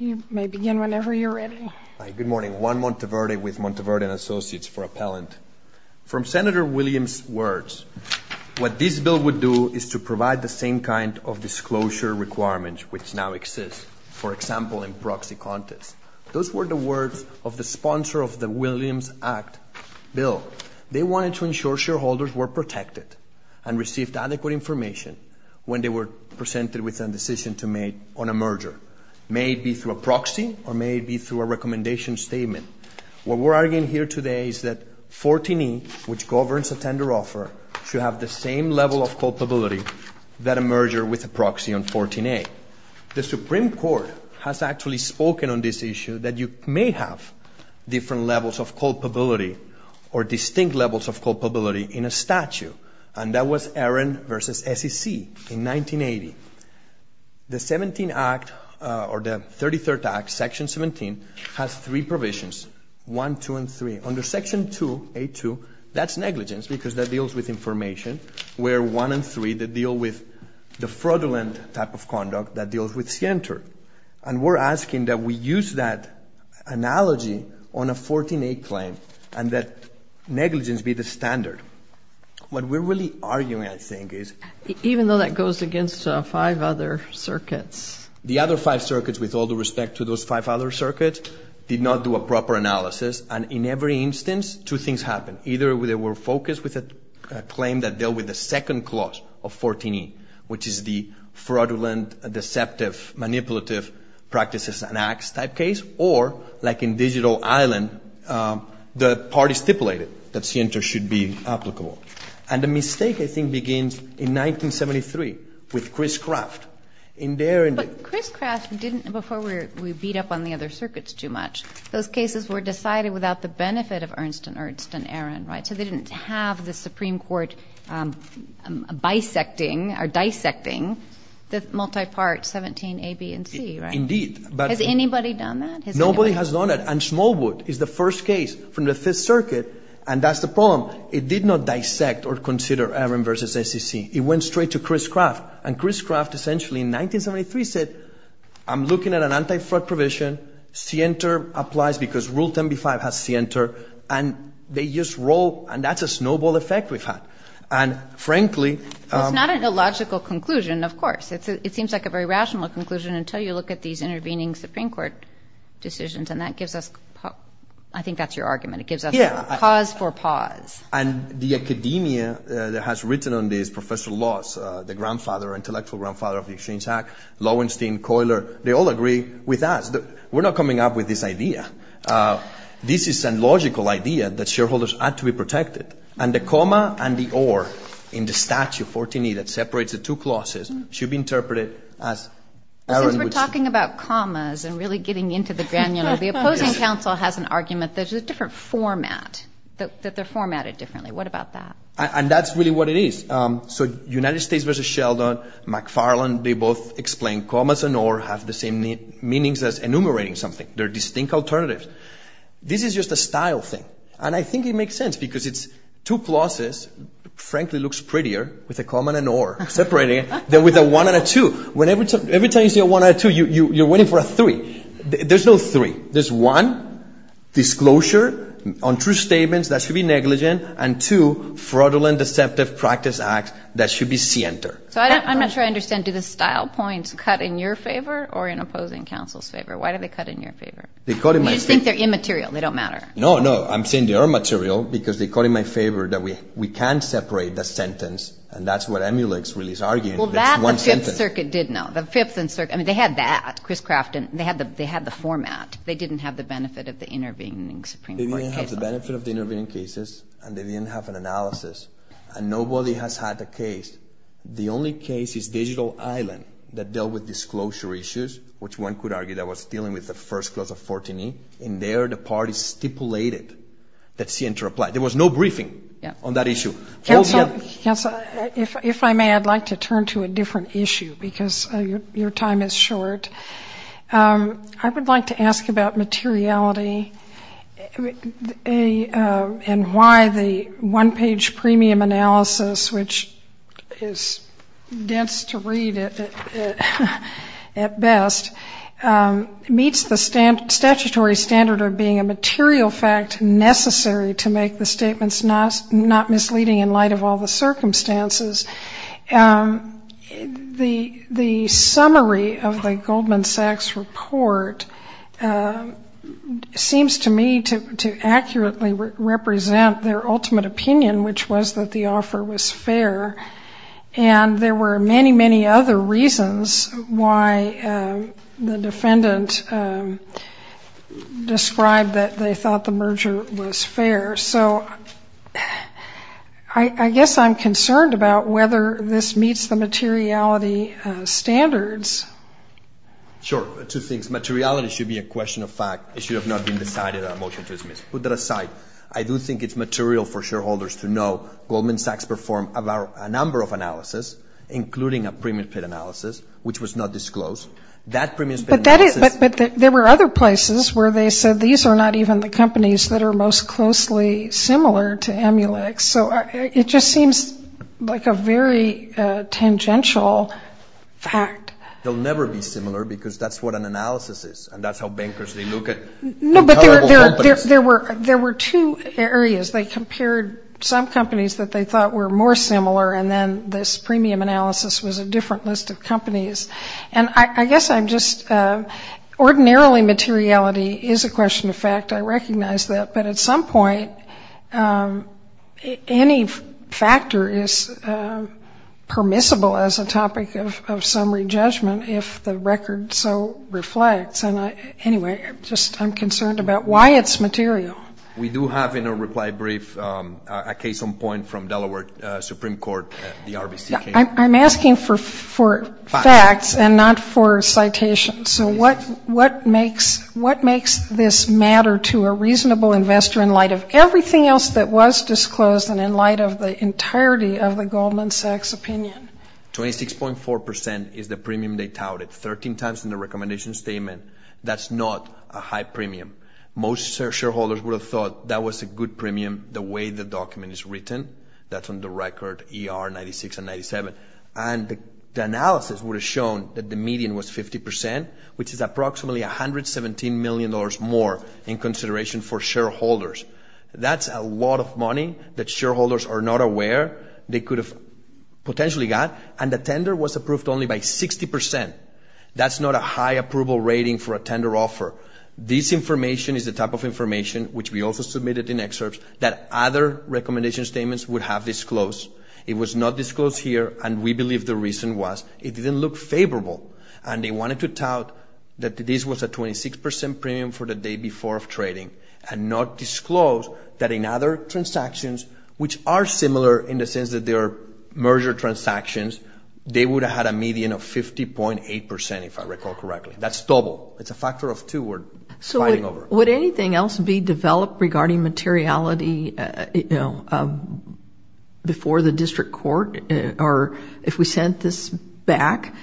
You may begin whenever you're ready. Good morning. Juan Monteverde with Monteverde & Associates for Appellant. From Senator Williams' words, what this bill would do is to provide the same kind of disclosure requirements which now exist, for example, in proxy contests. Those were the words of the sponsor of the Williams Act bill. They wanted to ensure shareholders were protected and received adequate information when they were presented with a decision to make on a merger, may it be through a proxy or may it be through a recommendation statement. What we're arguing here today is that 14E, which governs a tender offer, should have the same level of culpability that a merger with a proxy on 14A. The Supreme Court has actually spoken on this issue, that you may have different levels of culpability or distinct levels of culpability in a statute, and that was Aaron v. SEC in 1980. The 17th Act or the 33rd Act, Section 17, has three provisions, 1, 2, and 3. Under Section 2A2, that's negligence because that deals with information, where 1 and 3, they deal with the fraudulent type of conduct that deals with scienter. And we're asking that we use that analogy on a 14A claim and that negligence be the standard. What we're really arguing, I think, is— Even though that goes against five other circuits. The other five circuits, with all due respect to those five other circuits, did not do a proper analysis, and in every instance, two things happened. Either they were focused with a claim that dealt with the second clause of 14E, which is the fraudulent, deceptive, manipulative practices and acts type case, or, like in Digital Island, the parties stipulated that scienter should be applicable. And the mistake, I think, begins in 1973 with Chris Craft. But Chris Craft didn't, before we beat up on the other circuits too much, those cases were decided without the benefit of Ernst and Ernst and Aaron, right? So they didn't have the Supreme Court bisecting or dissecting the multi-part 17A, B, and C, right? Indeed. Has anybody done that? Nobody has done it. And Smallwood is the first case from the Fifth Circuit, and that's the problem. It did not dissect or consider Aaron v. SEC. It went straight to Chris Craft. And Chris Craft, essentially, in 1973 said, I'm looking at an anti-fraud provision, scienter applies because Rule 10b-5 has scienter, and they just roll, and that's a snowball effect we've had. It's not an illogical conclusion, of course. It seems like a very rational conclusion until you look at these intervening Supreme Court decisions, and that gives us, I think that's your argument, it gives us pause for pause. And the academia that has written on this, Professor Loss, the grandfather, intellectual grandfather of the Exchange Act, Lowenstein, Coyler, they all agree with us. We're not coming up with this idea. And the comma and the or in the statute, 14e, that separates the two clauses should be interpreted as Aaron v. SEC. Since we're talking about commas and really getting into the grand, you know, the opposing counsel has an argument that it's a different format, that they're formatted differently. What about that? And that's really what it is. So United States v. Sheldon, McFarland, they both explain commas and or have the same meanings as enumerating something. They're distinct alternatives. This is just a style thing. And I think it makes sense because it's two clauses, frankly looks prettier with a comma and an or separating it, than with a one and a two. Every time you see a one and a two, you're waiting for a three. There's no three. There's one, disclosure on true statements that should be negligent, and two, fraudulent, deceptive practice acts that should be scienter. So I'm not sure I understand. Do the style points cut in your favor or in opposing counsel's favor? Why do they cut in your favor? They cut in my favor. You just think they're immaterial. They don't matter. No, no, I'm saying they are material because they cut in my favor that we can't separate the sentence, and that's what Emulix really is arguing. That's one sentence. Well, that the Fifth Circuit did not. The Fifth Circuit, I mean, they had that. They had the format. They didn't have the benefit of the intervening Supreme Court cases. They didn't have the benefit of the intervening cases, and they didn't have an analysis. And nobody has had the case. The only case is Digital Island that dealt with disclosure issues, which one could argue that was dealing with the first clause of 14E. And there the parties stipulated that scienter apply. There was no briefing on that issue. Counsel, if I may, I'd like to turn to a different issue because your time is short. I would like to ask about materiality and why the one-page premium analysis, which is dense to read at best, meets the statutory standard of being a material fact necessary to make the statements not misleading in light of all the circumstances. The summary of the Goldman Sachs report seems to me to accurately represent their ultimate opinion, which was that the offer was fair. And there were many, many other reasons why the defendant described that they thought the merger was fair. So I guess I'm concerned about whether this meets the materiality standards. Sure. Two things. Materiality should be a question of fact. It should have not been decided on a motion to dismiss. Put that aside. I do think it's material for shareholders to know Goldman Sachs performed a number of analysis, including a premium split analysis, which was not disclosed. But there were other places where they said these are not even the companies that are most closely similar to Amulex. So it just seems like a very tangential fact. They'll never be similar because that's what an analysis is, and that's how bankers look at intolerable companies. There were two areas. They compared some companies that they thought were more similar, and then this premium analysis was a different list of companies. And I guess I'm just ordinarily materiality is a question of fact. I recognize that. But at some point, any factor is permissible as a topic of summary judgment if the record so reflects. Anyway, I'm concerned about why it's material. We do have in a reply brief a case on point from Delaware Supreme Court, the RBC case. I'm asking for facts and not for citations. So what makes this matter to a reasonable investor in light of everything else that was disclosed and in light of the entirety of the Goldman Sachs opinion? 26.4% is the premium they touted, 13 times in the recommendation statement. That's not a high premium. Most shareholders would have thought that was a good premium the way the document is written. That's on the record ER 96 and 97. And the analysis would have shown that the median was 50%, which is approximately $117 million more in consideration for shareholders. That's a lot of money that shareholders are not aware they could have potentially got, and the tender was approved only by 60%. That's not a high approval rating for a tender offer. This information is the type of information, which we also submitted in excerpts, that other recommendation statements would have disclosed. It was not disclosed here, and we believe the reason was it didn't look favorable. And they wanted to tout that this was a 26% premium for the day before trading and not disclose that in other transactions, which are similar in the sense that they are merger transactions. They would have had a median of 50.8%, if I recall correctly. That's double. It's a factor of two we're fighting over. Would anything else be developed regarding materiality before the district court, or if we sent this back?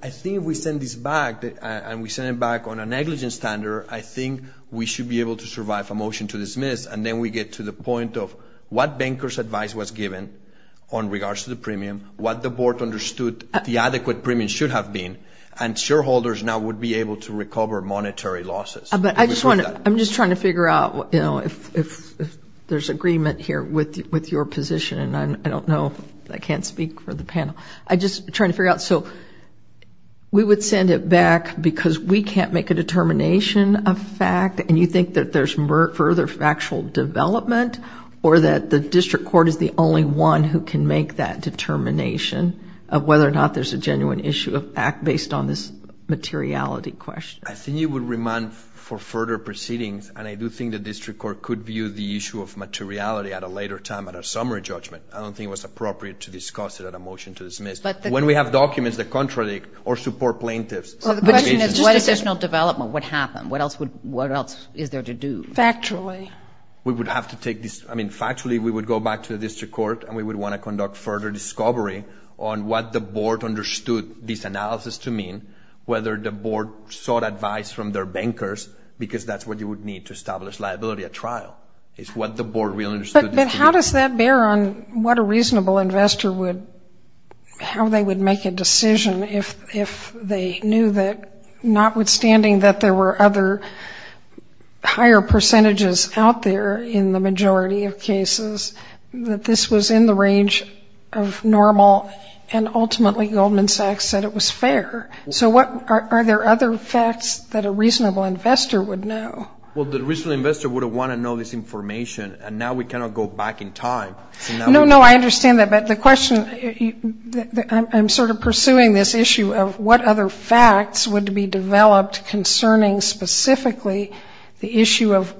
I think if we send this back, and we send it back on a negligence standard, I think we should be able to survive a motion to dismiss, and then we get to the point of what banker's advice was given on regards to the premium, what the board understood the adequate premium should have been, and shareholders now would be able to recover monetary losses. I'm just trying to figure out if there's agreement here with your position, and I don't know if I can't speak for the panel. I'm just trying to figure out. So we would send it back because we can't make a determination of fact, and you think that there's further factual development, or that the district court is the only one who can make that determination of whether or not there's a genuine issue of fact based on this materiality question? I think it would remand for further proceedings, and I do think the district court could view the issue of materiality at a later time, at a summary judgment. I don't think it was appropriate to discuss it at a motion to dismiss. When we have documents that contradict or support plaintiffs. Decisional development, what happened? What else is there to do? Factually. We would have to take this. I mean, factually, we would go back to the district court, and we would want to conduct further discovery on what the board understood this analysis to mean, whether the board sought advice from their bankers, because that's what you would need to establish liability at trial, is what the board really understood. But how does that bear on what a reasonable investor would, how they would make a decision if they knew that, notwithstanding that there were other higher percentages out there in the majority of cases, that this was in the range of normal and ultimately Goldman Sachs said it was fair. So are there other facts that a reasonable investor would know? Well, the reasonable investor would have wanted to know this information, and now we cannot go back in time. No, no, I understand that. But the question, I'm sort of pursuing this issue of what other facts would be developed concerning specifically the issue of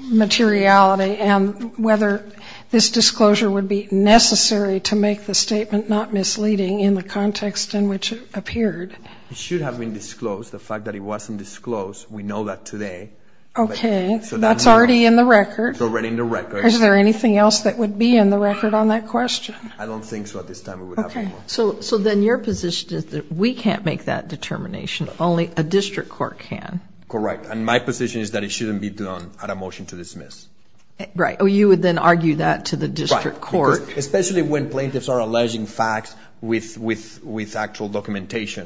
materiality and whether this disclosure would be necessary to make the statement not misleading in the context in which it appeared. It should have been disclosed. The fact that it wasn't disclosed, we know that today. Okay. So that's already in the record. It's already in the record. Is there anything else that would be in the record on that question? I don't think so at this time. Okay. So then your position is that we can't make that determination. Only a district court can. Correct. And my position is that it shouldn't be done at a motion to dismiss. Right. Oh, you would then argue that to the district court. Especially when plaintiffs are alleging facts with actual documentation.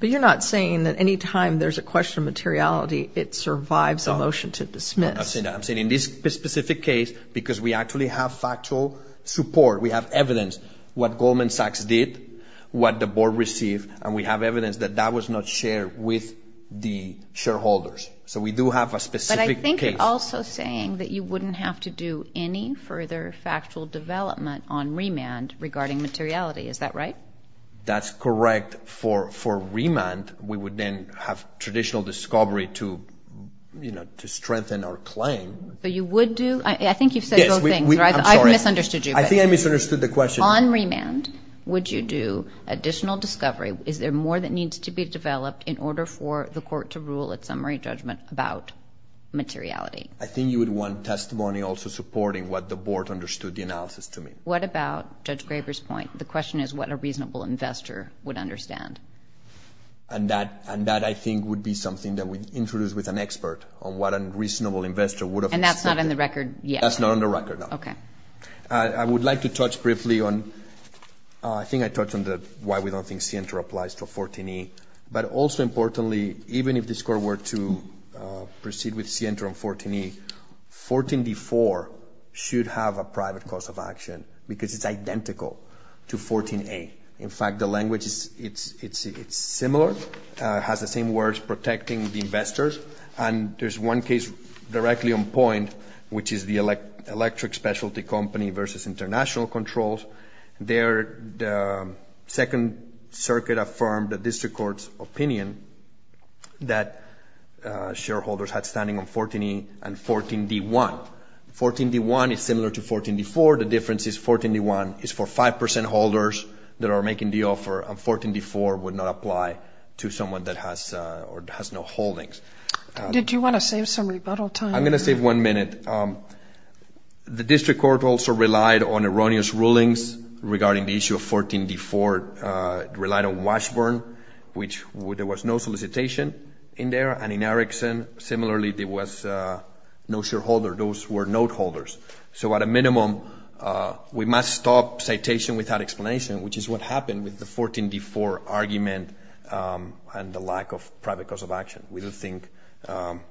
But you're not saying that any time there's a question of materiality, it survives a motion to dismiss. I'm saying in this specific case because we actually have factual support. We have evidence what Goldman Sachs did, what the board received, and we have evidence that that was not shared with the shareholders. So we do have a specific case. But I think you're also saying that you wouldn't have to do any further factual development on remand regarding materiality. Is that right? That's correct. For remand, we would then have traditional discovery to strengthen our claim. But you would do? I think you've said both things. I've misunderstood you. I think I misunderstood the question. On remand, would you do additional discovery? Is there more that needs to be developed in order for the court to rule its summary judgment about materiality? I think you would want testimony also supporting what the board understood the analysis to mean. What about Judge Graber's point? The question is what a reasonable investor would understand. And that, I think, would be something that we'd introduce with an expert on what a reasonable investor would have understood. And that's not on the record yet? That's not on the record, no. Okay. I would like to touch briefly on why we don't think CNTR applies to 14E. But also importantly, even if this court were to proceed with CNTR on 14E, 14D4 should have a private course of action because it's identical to 14A. In fact, the language is similar. It has the same words, protecting the investors. And there's one case directly on point, which is the electric specialty company versus international controls. There, the Second Circuit affirmed the district court's opinion that shareholders had standing on 14E and 14D1. 14D1 is similar to 14D4. The difference is 14D1 is for 5% holders that are making the offer, and 14D4 would not apply to someone that has no holdings. Did you want to save some rebuttal time? I'm going to save one minute. The district court also relied on erroneous rulings regarding the issue of 14D4. It relied on Washburn, which there was no solicitation in there. And in Erickson, similarly, there was no shareholder. Those were note holders. So at a minimum, we must stop citation without explanation, which is what happened with the 14D4 argument and the lack of private course of action. We do think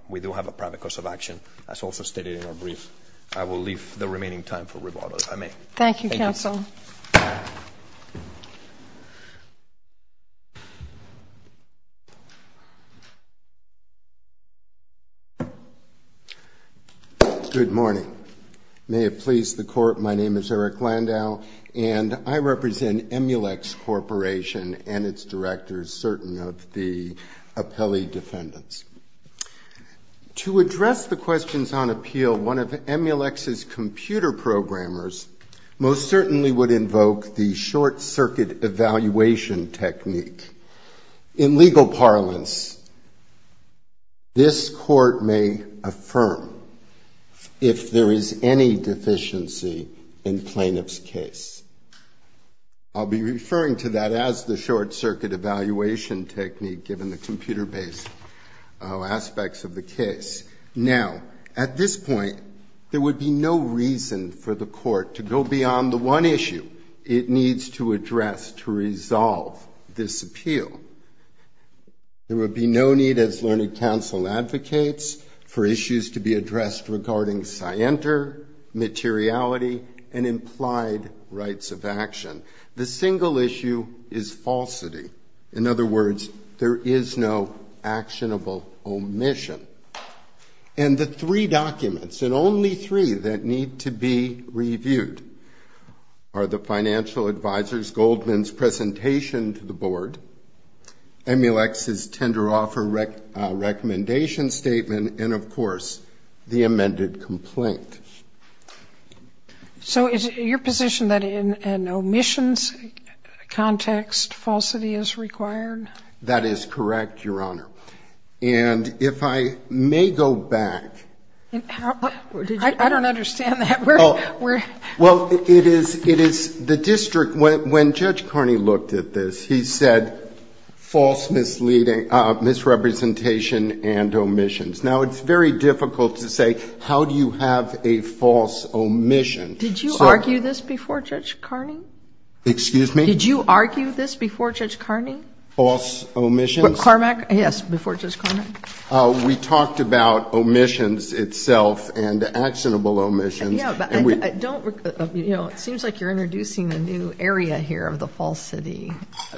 we do have a private course of action, as also stated in our brief. I will leave the remaining time for rebuttal, if I may. Thank you, counsel. Good morning. May it please the Court, my name is Erick Landau, and I represent Emulex Corporation and its directors, certain of the appellee defendants. To address the questions on appeal, one of Emulex's computer programmers, he would invoke the short-circuit evaluation technique. In legal parlance, this court may affirm if there is any deficiency in plaintiff's case. I'll be referring to that as the short-circuit evaluation technique, given the computer-based aspects of the case. Now, at this point, there would be no reason for the court to go beyond the one issue it needs to address to resolve this appeal. There would be no need, as learned counsel advocates, for issues to be addressed regarding scienter, materiality, and implied rights of action. The single issue is falsity. In other words, there is no actionable omission. And the three documents, and only three that need to be reviewed, are the financial advisor's Goldman's presentation to the board, Emulex's tender offer recommendation statement, and, of course, the amended complaint. So is it your position that in an omissions context, falsity is required? That is correct, Your Honor. And if I may go back... I don't understand that. Well, it is the district, when Judge Carney looked at this, he said false misrepresentation and omissions. Now, it's very difficult to say how do you have a false omission. Did you argue this before Judge Carney? False omissions? We talked about omissions itself and actionable omissions. It seems like you're introducing a new area here of the falsity.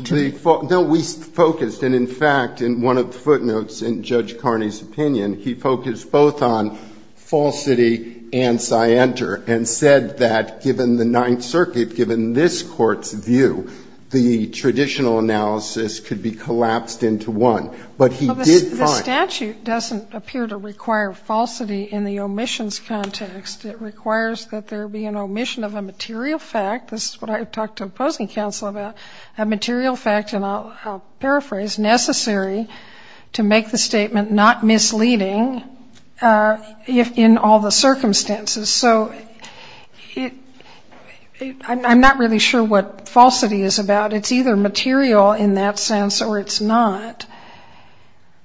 No, we focused, and in fact, in one of the footnotes in Judge Carney's opinion, he focused both on falsity and scienter, and said that given the Ninth Circuit, given this Court's view, the traditional analysis could be collapsed into one. But he did find... The statute doesn't appear to require falsity in the omissions context. It requires that there be an omission of a material fact. This is what I talked to opposing counsel about, a material fact, and I'll paraphrase, necessary to make the statement not misleading in all the circumstances. So I'm not really sure what falsity is about. It's either material in that sense or it's not.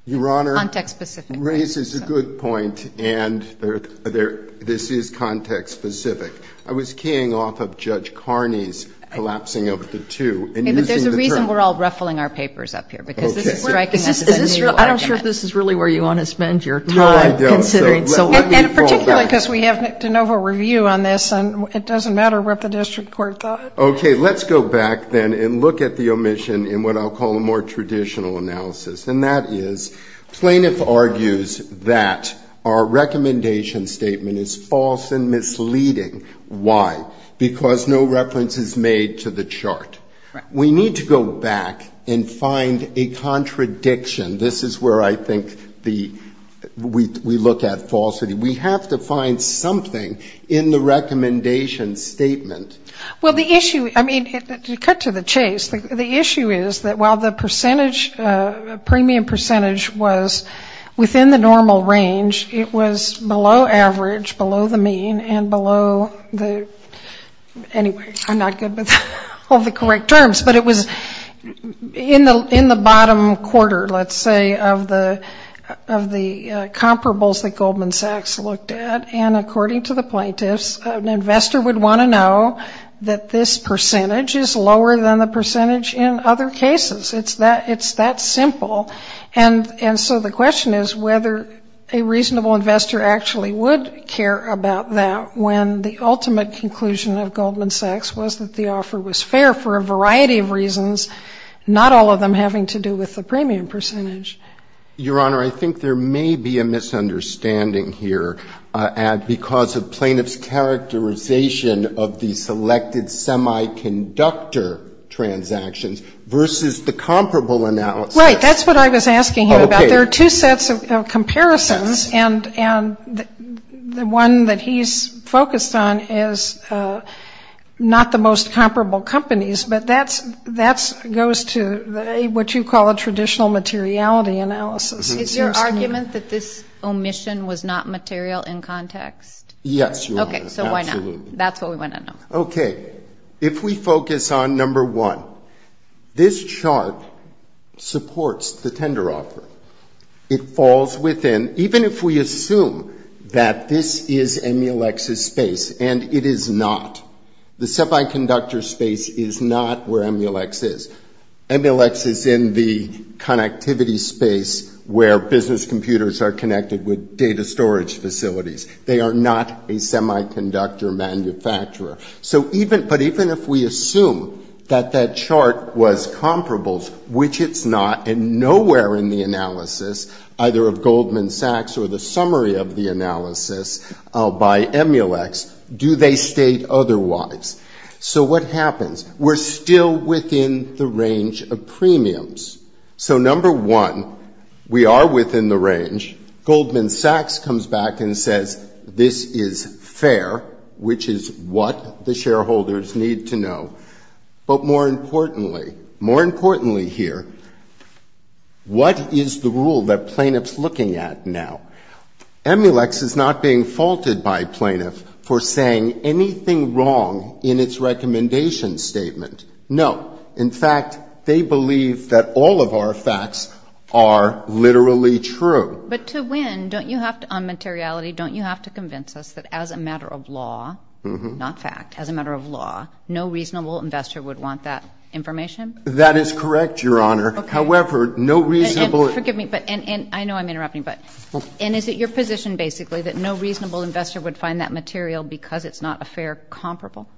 Your Honor... Context-specific. ...raises a good point, and this is context-specific. I was keying off of Judge Carney's collapsing of the two and using the term... Okay, but there's a reason we're all ruffling our papers up here, because this is striking as a new argument. I'm not sure if this is really where you want to spend your time considering. No, I don't. And particularly because we have de novo review on this, and it doesn't matter what the district court thought. Okay, let's go back then and look at the omission in what I'll call a more traditional analysis, and that is plaintiff argues that our recommendation statement is false and misleading. Why? Because no reference is made to the chart. We need to go back and find a contradiction. This is where I think we look at falsity. We have to find something in the recommendation statement. Well, the issue, I mean, to cut to the chase, the issue is that while the premium percentage was within the normal range, it was below average, below the mean, and below the anyway, I'm not good with all the correct terms, but it was in the bottom quarter, let's say, of the comparables that Goldman Sachs looked at, and according to the plaintiffs, an investor would want to know that this percentage is lower than the percentage in other cases. It's that simple. And so the question is whether a reasonable investor actually would care about that when the ultimate conclusion of Goldman Sachs was that the offer was fair for a variety of reasons, not all of them having to do with the premium percentage. Your Honor, I think there may be a misunderstanding here, Ed, because of plaintiffs' characterization of the selected semiconductor transactions versus the comparable analysis. Right. That's what I was asking him about. There are two sets of comparisons, and the one that he's focused on is not the most comparable companies, but that goes to what you call a traditional materiality analysis. Is there argument that this omission was not material in context? Yes, Your Honor. Okay, so why not? Absolutely. That's what we want to know. Okay. If we focus on number one, this chart supports the tender offer. It falls within, even if we assume that this is EMILEX's space, and it is not. The semiconductor space is not where EMILEX is. EMILEX is in the connectivity space where business computers are connected with data storage facilities. They are not a semiconductor manufacturer. But even if we assume that that chart was comparable, which it's not, and nowhere in the analysis, either of Goldman Sachs or the summary of the analysis by EMILEX, do they state otherwise? So what happens? We're still within the range of premiums. So number one, we are within the range. Goldman Sachs comes back and says this is fair, which is what the shareholders need to know. But more importantly, more importantly here, what is the rule that plaintiff's looking at now? EMILEX is not being faulted by plaintiff for saying anything wrong in its recommendation statement. No. In fact, they believe that all of our facts are literally true. But to win, don't you have to, on materiality, don't you have to convince us that as a matter of law, not fact, as a matter of law, no reasonable investor would want that information? That is correct, Your Honor. Okay. However, no reasonable ---- Well, forgive me, but I know I'm interrupting, but is it your position, basically, that no reasonable investor would find that material because it's not a fair comparable?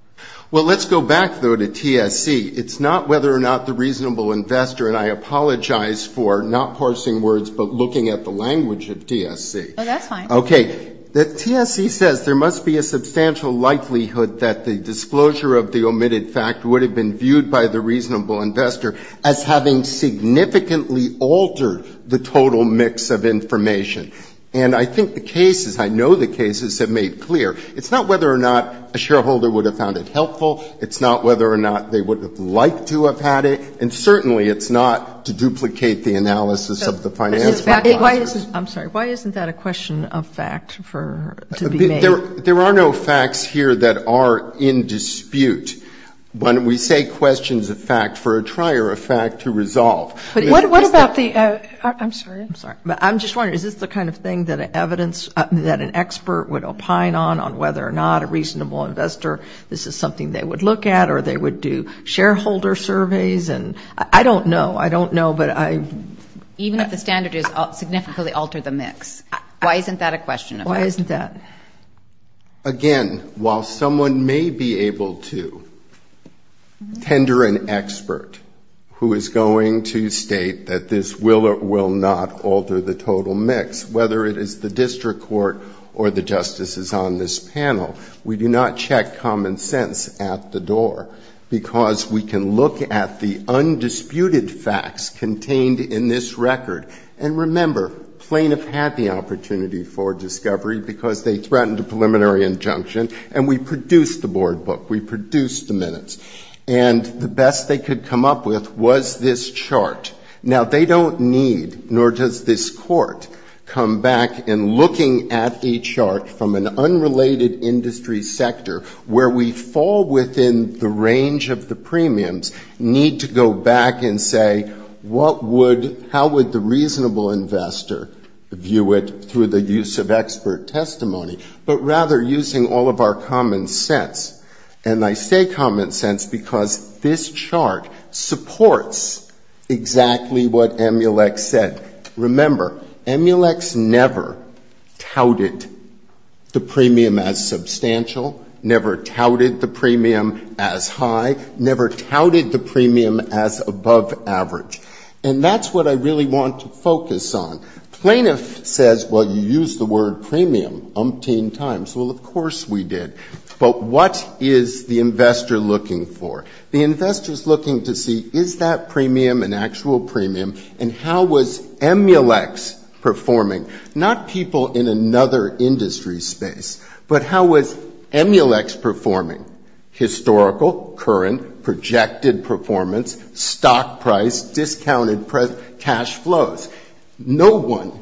Well, let's go back, though, to TSC. It's not whether or not the reasonable investor, and I apologize for not parsing words but looking at the language of TSC. Oh, that's fine. Okay. TSC says there must be a substantial likelihood that the disclosure of the omitted fact would have been viewed by the reasonable investor as having significantly altered the total mix of information. And I think the cases, I know the cases have made clear. It's not whether or not a shareholder would have found it helpful. It's not whether or not they would have liked to have had it. And certainly it's not to duplicate the analysis of the financial process. I'm sorry. Why isn't that a question of fact for ---- There are no facts here that are in dispute. When we say questions of fact, for a trier of fact to resolve. What about the ---- I'm sorry. I'm sorry. I'm just wondering, is this the kind of thing that an expert would opine on, on whether or not a reasonable investor, this is something they would look at or they would do shareholder surveys? And I don't know. I don't know, but I ---- Even if the standard is significantly alter the mix. Why isn't that a question of fact? Why isn't that? Again, while someone may be able to tender an expert, who is going to state that this will or will not alter the total mix, whether it is the district court or the justices on this panel, we do not check common sense at the door, because we can look at the undisputed facts contained in this record. And remember, plaintiff had the opportunity for discovery because they threatened a preliminary injunction, and we produced the board book. We produced the minutes. And the best they could come up with was this chart. Now, they don't need, nor does this court, come back and looking at a chart from an unrelated industry sector, where we fall within the range of the premiums, need to go back and say, what would ---- through the use of expert testimony, but rather using all of our common sense. And I say common sense because this chart supports exactly what Emulex said. Remember, Emulex never touted the premium as substantial, never touted the premium as high, never touted the premium as above average. And that's what I really want to focus on. Plaintiff says, well, you used the word premium umpteen times. Well, of course we did. But what is the investor looking for? The investor is looking to see, is that premium an actual premium, and how was Emulex performing? Not people in another industry space, but how was Emulex performing? Historical, current, projected performance, stock price, discounted cash flows. No one,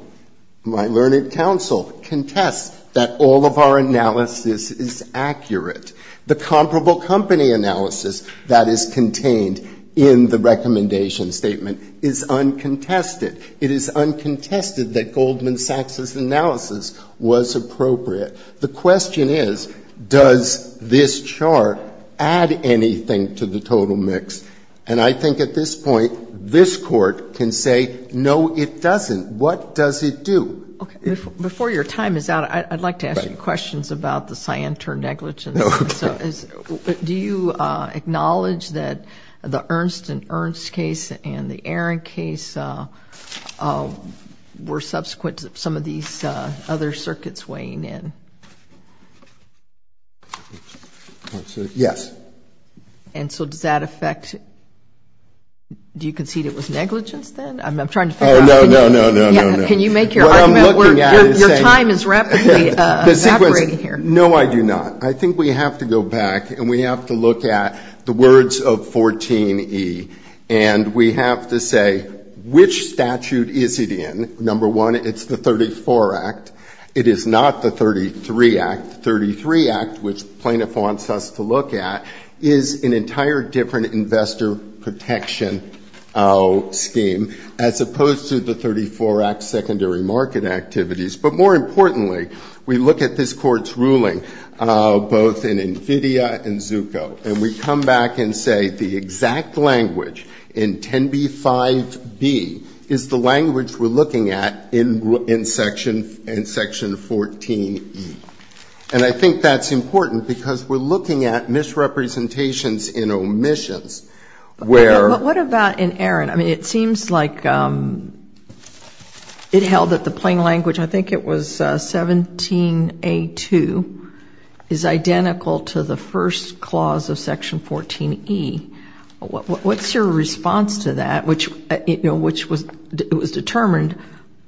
my learned counsel, contests that all of our analysis is accurate. The comparable company analysis that is contained in the recommendation statement is uncontested. It is uncontested that Goldman Sachs' analysis was appropriate. The question is, does this chart add anything to the total mix? And I think at this point, this Court can say, no, it doesn't. What does it do? Before your time is out, I'd like to ask you questions about the cyanide turn negligence. Do you acknowledge that the Ernst & Ernst case and the Aaron case were subsequent to some of these other circuits weighing in? Yes. And so does that affect, do you concede it was negligence then? I'm trying to figure out. Oh, no, no, no, no, no. Can you make your argument where your time is rapidly evaporating here? No, I do not. I think we have to go back and we have to look at the words of 14E, and we have to say, which statute is it in? Number one, it's the 34 Act. It is not the 33 Act. The 33 Act, which plaintiff wants us to look at, is an entire different investor protection scheme, as opposed to the 34 Act secondary market activities. But more importantly, we look at this Court's ruling, both in NVIDIA and Zucco, and we come back and say the exact language in 10b-5b is the language we're looking at in Section 14E. And I think that's important because we're looking at misrepresentations in omissions where ---- But what about in Aaron? I mean, it seems like it held that the plain language, I think it was 17A2, is identical to the first clause of Section 14E. What's your response to that, which was determined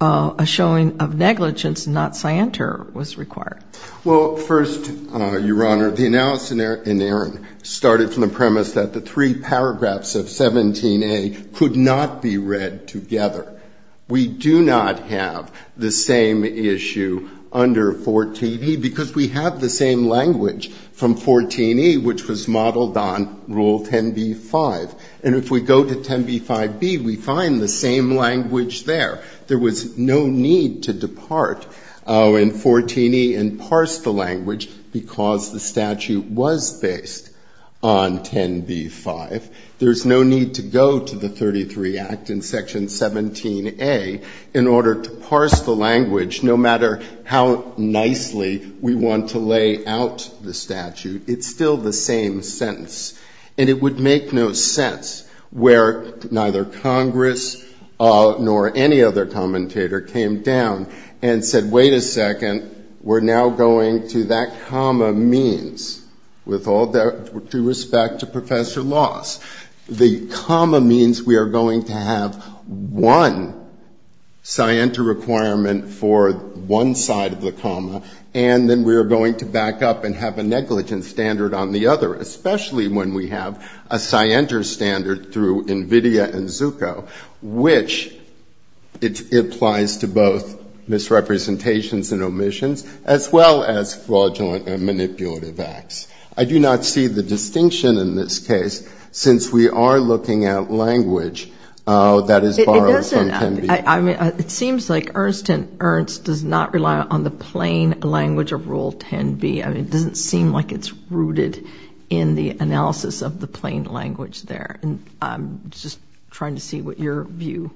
a showing of negligence and not scienter was required? Well, first, Your Honor, the analysis in Aaron started from the premise that the three paragraphs of 17A could not be read together. We do not have the same issue under 14E because we have the same language from 14E, which was modeled on Rule 10b-5. And if we go to 10b-5b, we find the same language there. There was no need to depart in 14E and parse the language because the statute was based on 10b-5. There's no need to go to the 33 Act in Section 17A in order to parse the statute. It's still the same sentence. And it would make no sense where neither Congress nor any other commentator came down and said, wait a second, we're now going to that comma means, with all due respect to Professor Loss. The comma means we are going to have one scienter requirement for one side of the comma, and then we are going to back up and have a negligent standard on the other, especially when we have a scienter standard through NVIDIA and Zucco, which it applies to both misrepresentations and omissions, as well as fraudulent and manipulative acts. I do not see the distinction in this case since we are looking at language that is borrowed from 10b-5. And Ernst & Ernst does not rely on the plain language of Rule 10b. It doesn't seem like it's rooted in the analysis of the plain language there. I'm just trying to see what your view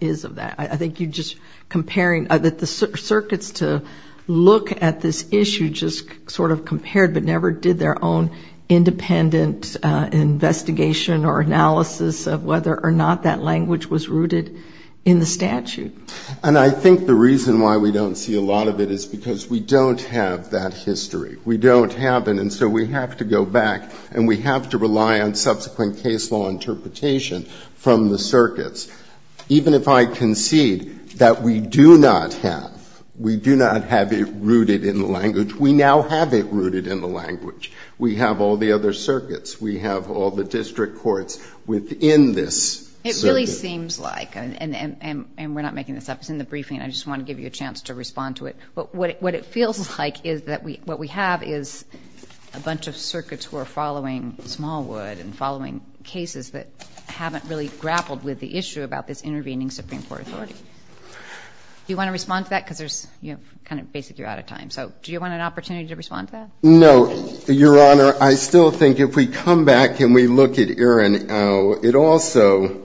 is of that. I think you're just comparing, that the circuits to look at this issue just sort of compared but never did their own independent investigation or analysis of whether or not that language was rooted in the statute. And I think the reason why we don't see a lot of it is because we don't have that history. We don't have it. And so we have to go back and we have to rely on subsequent case law interpretation from the circuits. Even if I concede that we do not have, we do not have it rooted in the language, we now have it rooted in the language. We have all the other circuits. We have all the district courts within this circuit. It really seems like, and we're not making this up, it's in the briefing. I just want to give you a chance to respond to it. But what it feels like is that what we have is a bunch of circuits who are following Smallwood and following cases that haven't really grappled with the issue about this intervening Supreme Court authority. Do you want to respond to that? Because there's kind of basically out of time. So do you want an opportunity to respond to that? No, Your Honor. I still think if we come back and we look at Erin, it also,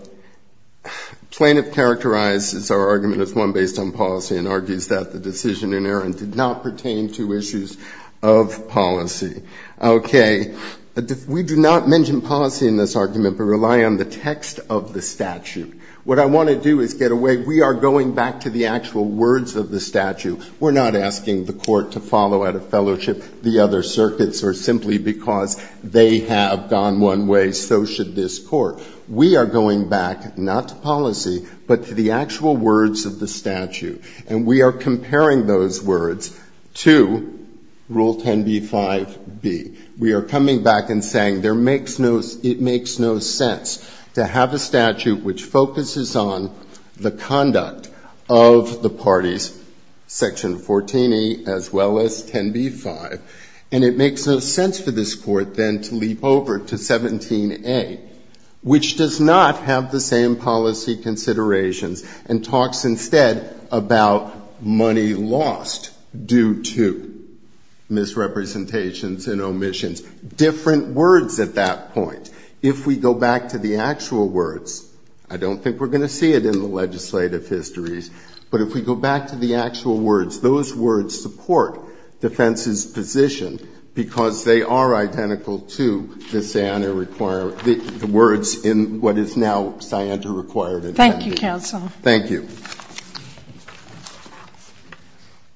plaintiff characterizes our argument as one based on policy and argues that the decision in Erin did not pertain to issues of policy. Okay. We do not mention policy in this argument, but rely on the text of the statute. What I want to do is get away, we are going back to the actual words of the statute. We're not asking the court to follow out of fellowship the other circuits or simply because they have gone one way, so should this court. We are going back not to policy, but to the actual words of the statute. And we are comparing those words to Rule 10b-5b. We are coming back and saying there makes no, it makes no sense to have a statute which focuses on the conduct of the parties, Section 14e as well as 10b-5. And it makes no sense for this court then to leap over to 17a, which does not have the same policy considerations and talks instead about money lost due to misrepresentations and omissions. Different words at that point. If we go back to the actual words, I don't think we're going to see it in the legislative histories, but if we go back to the actual words, those words support defense's position because they are identical to the Siander requirement, the words in what is now Siander-required. Thank you, counsel. Thank you.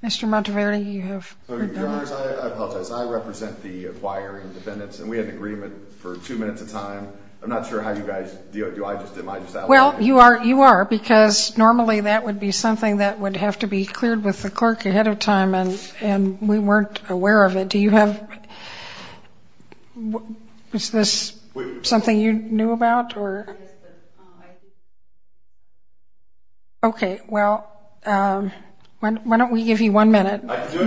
Mr. Monteverdi, you have your turn. Your Honors, I apologize. I represent the acquiring defendants, and we had an agreement for two minutes of time. I'm not sure how you guys, do I just, am I just outlawing it? Well, you are, because normally that would be something that would have to be cleared with the clerk ahead of time, and we weren't aware of it. Do you have, is this something you knew about, or? Okay. Well, why don't we give you one minute.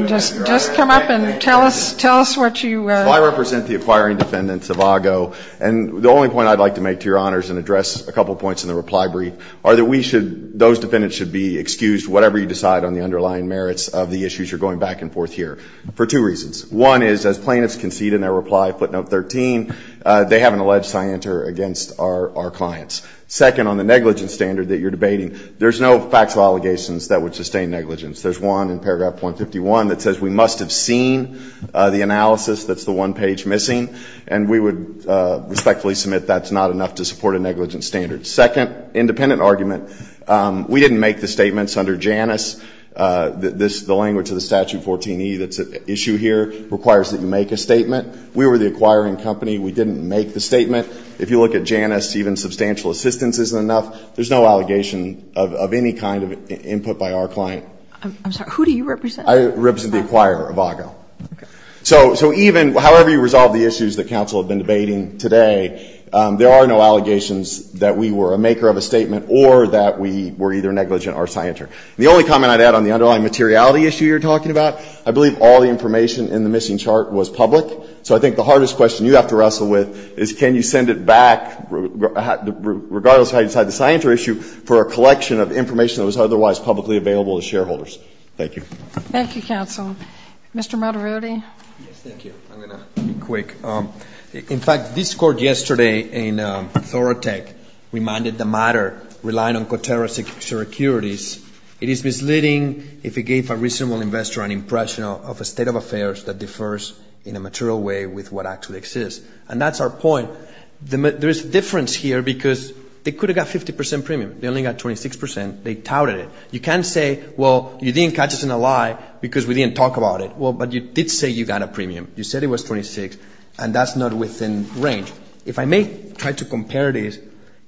Just come up and tell us what you. Well, I represent the acquiring defendants of AGO, and the only point I'd like to make to your Honors and address a couple points in the reply brief are that we should, those defendants should be excused whatever you decide on the underlying merits of the issues you're going back and forth here for two reasons. One is, as plaintiffs concede in their reply, footnote 13, they have an alleged Siander against our clients. Second, on the negligence standard that you're debating, there's no factual allegations that would sustain negligence. There's one in paragraph 151 that says we must have seen the analysis that's the one page missing, and we would respectfully submit that's not enough to support a negligence standard. Second independent argument, we didn't make the statements under Janus. The language of the Statute 14E that's at issue here requires that you make a statement. We were the acquiring company. We didn't make the statement. If you look at Janus, even substantial assistance isn't enough. There's no allegation of any kind of input by our client. I'm sorry. Who do you represent? I represent the acquirer of AGO. Okay. So even, however you resolve the issues that counsel have been debating today, there are no allegations that we were a maker of a statement or that we were either negligent or Siander. The only comment I'd add on the underlying materiality issue you're talking about, I believe all the information in the missing chart was public. So I think the hardest question you have to wrestle with is can you send it back, regardless of how you decide the Siander issue, for a collection of information that was otherwise publicly available to shareholders. Thank you. Thank you, counsel. Mr. Moderati. Yes, thank you. I'm going to be quick. In fact, this court yesterday in Thorotek reminded the matter relying on coterrorist securities. It is misleading if it gave a reasonable investor an impression of a state of affairs that differs in a material way with what actually exists. And that's our point. There is a difference here because they could have got 50 percent premium. They only got 26 percent. They touted it. You can't say, well, you didn't catch us in a lie because we didn't talk about it. Well, but you did say you got a premium. You said it was 26, and that's not within range. If I may try to compare this,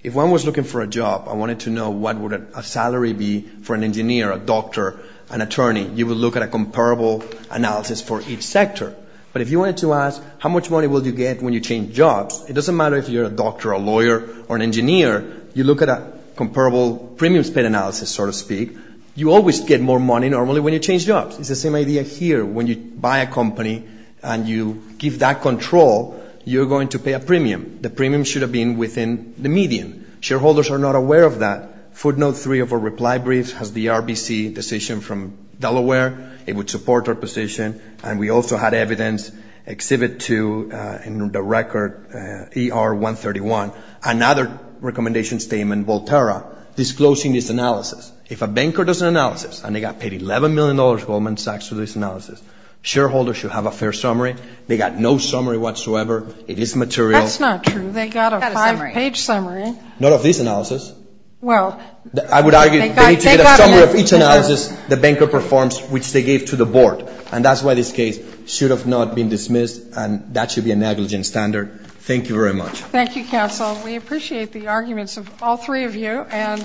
if one was looking for a job, I wanted to know what would a salary be for an engineer, a doctor, an attorney. You would look at a comparable analysis for each sector. But if you wanted to ask how much money will you get when you change jobs, it doesn't matter if you're a doctor, a lawyer, or an engineer. You look at a comparable premium spent analysis, so to speak. You always get more money normally when you change jobs. It's the same idea here. When you buy a company and you give that control, you're going to pay a premium. The premium should have been within the median. Shareholders are not aware of that. Footnote 3 of our reply briefs has the RBC decision from Delaware. It would support our position, and we also had evidence, Exhibit 2, in the record, ER-131, another recommendation statement, Volterra, disclosing this analysis. If a banker does an analysis and they got paid $11 million Goldman Sachs for this analysis, shareholders should have a fair summary. They got no summary whatsoever. It is material. That's not true. They got a five-page summary. None of this analysis. I would argue they need to get a summary of each analysis the banker performs, which they gave to the board. And that's why this case should have not been dismissed, and that should be a negligent standard. Thank you very much. Thank you, Counsel. We appreciate the arguments of all three of you, and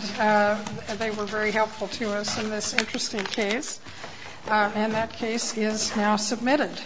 they were very helpful to us in this interesting case. And that case is now submitted.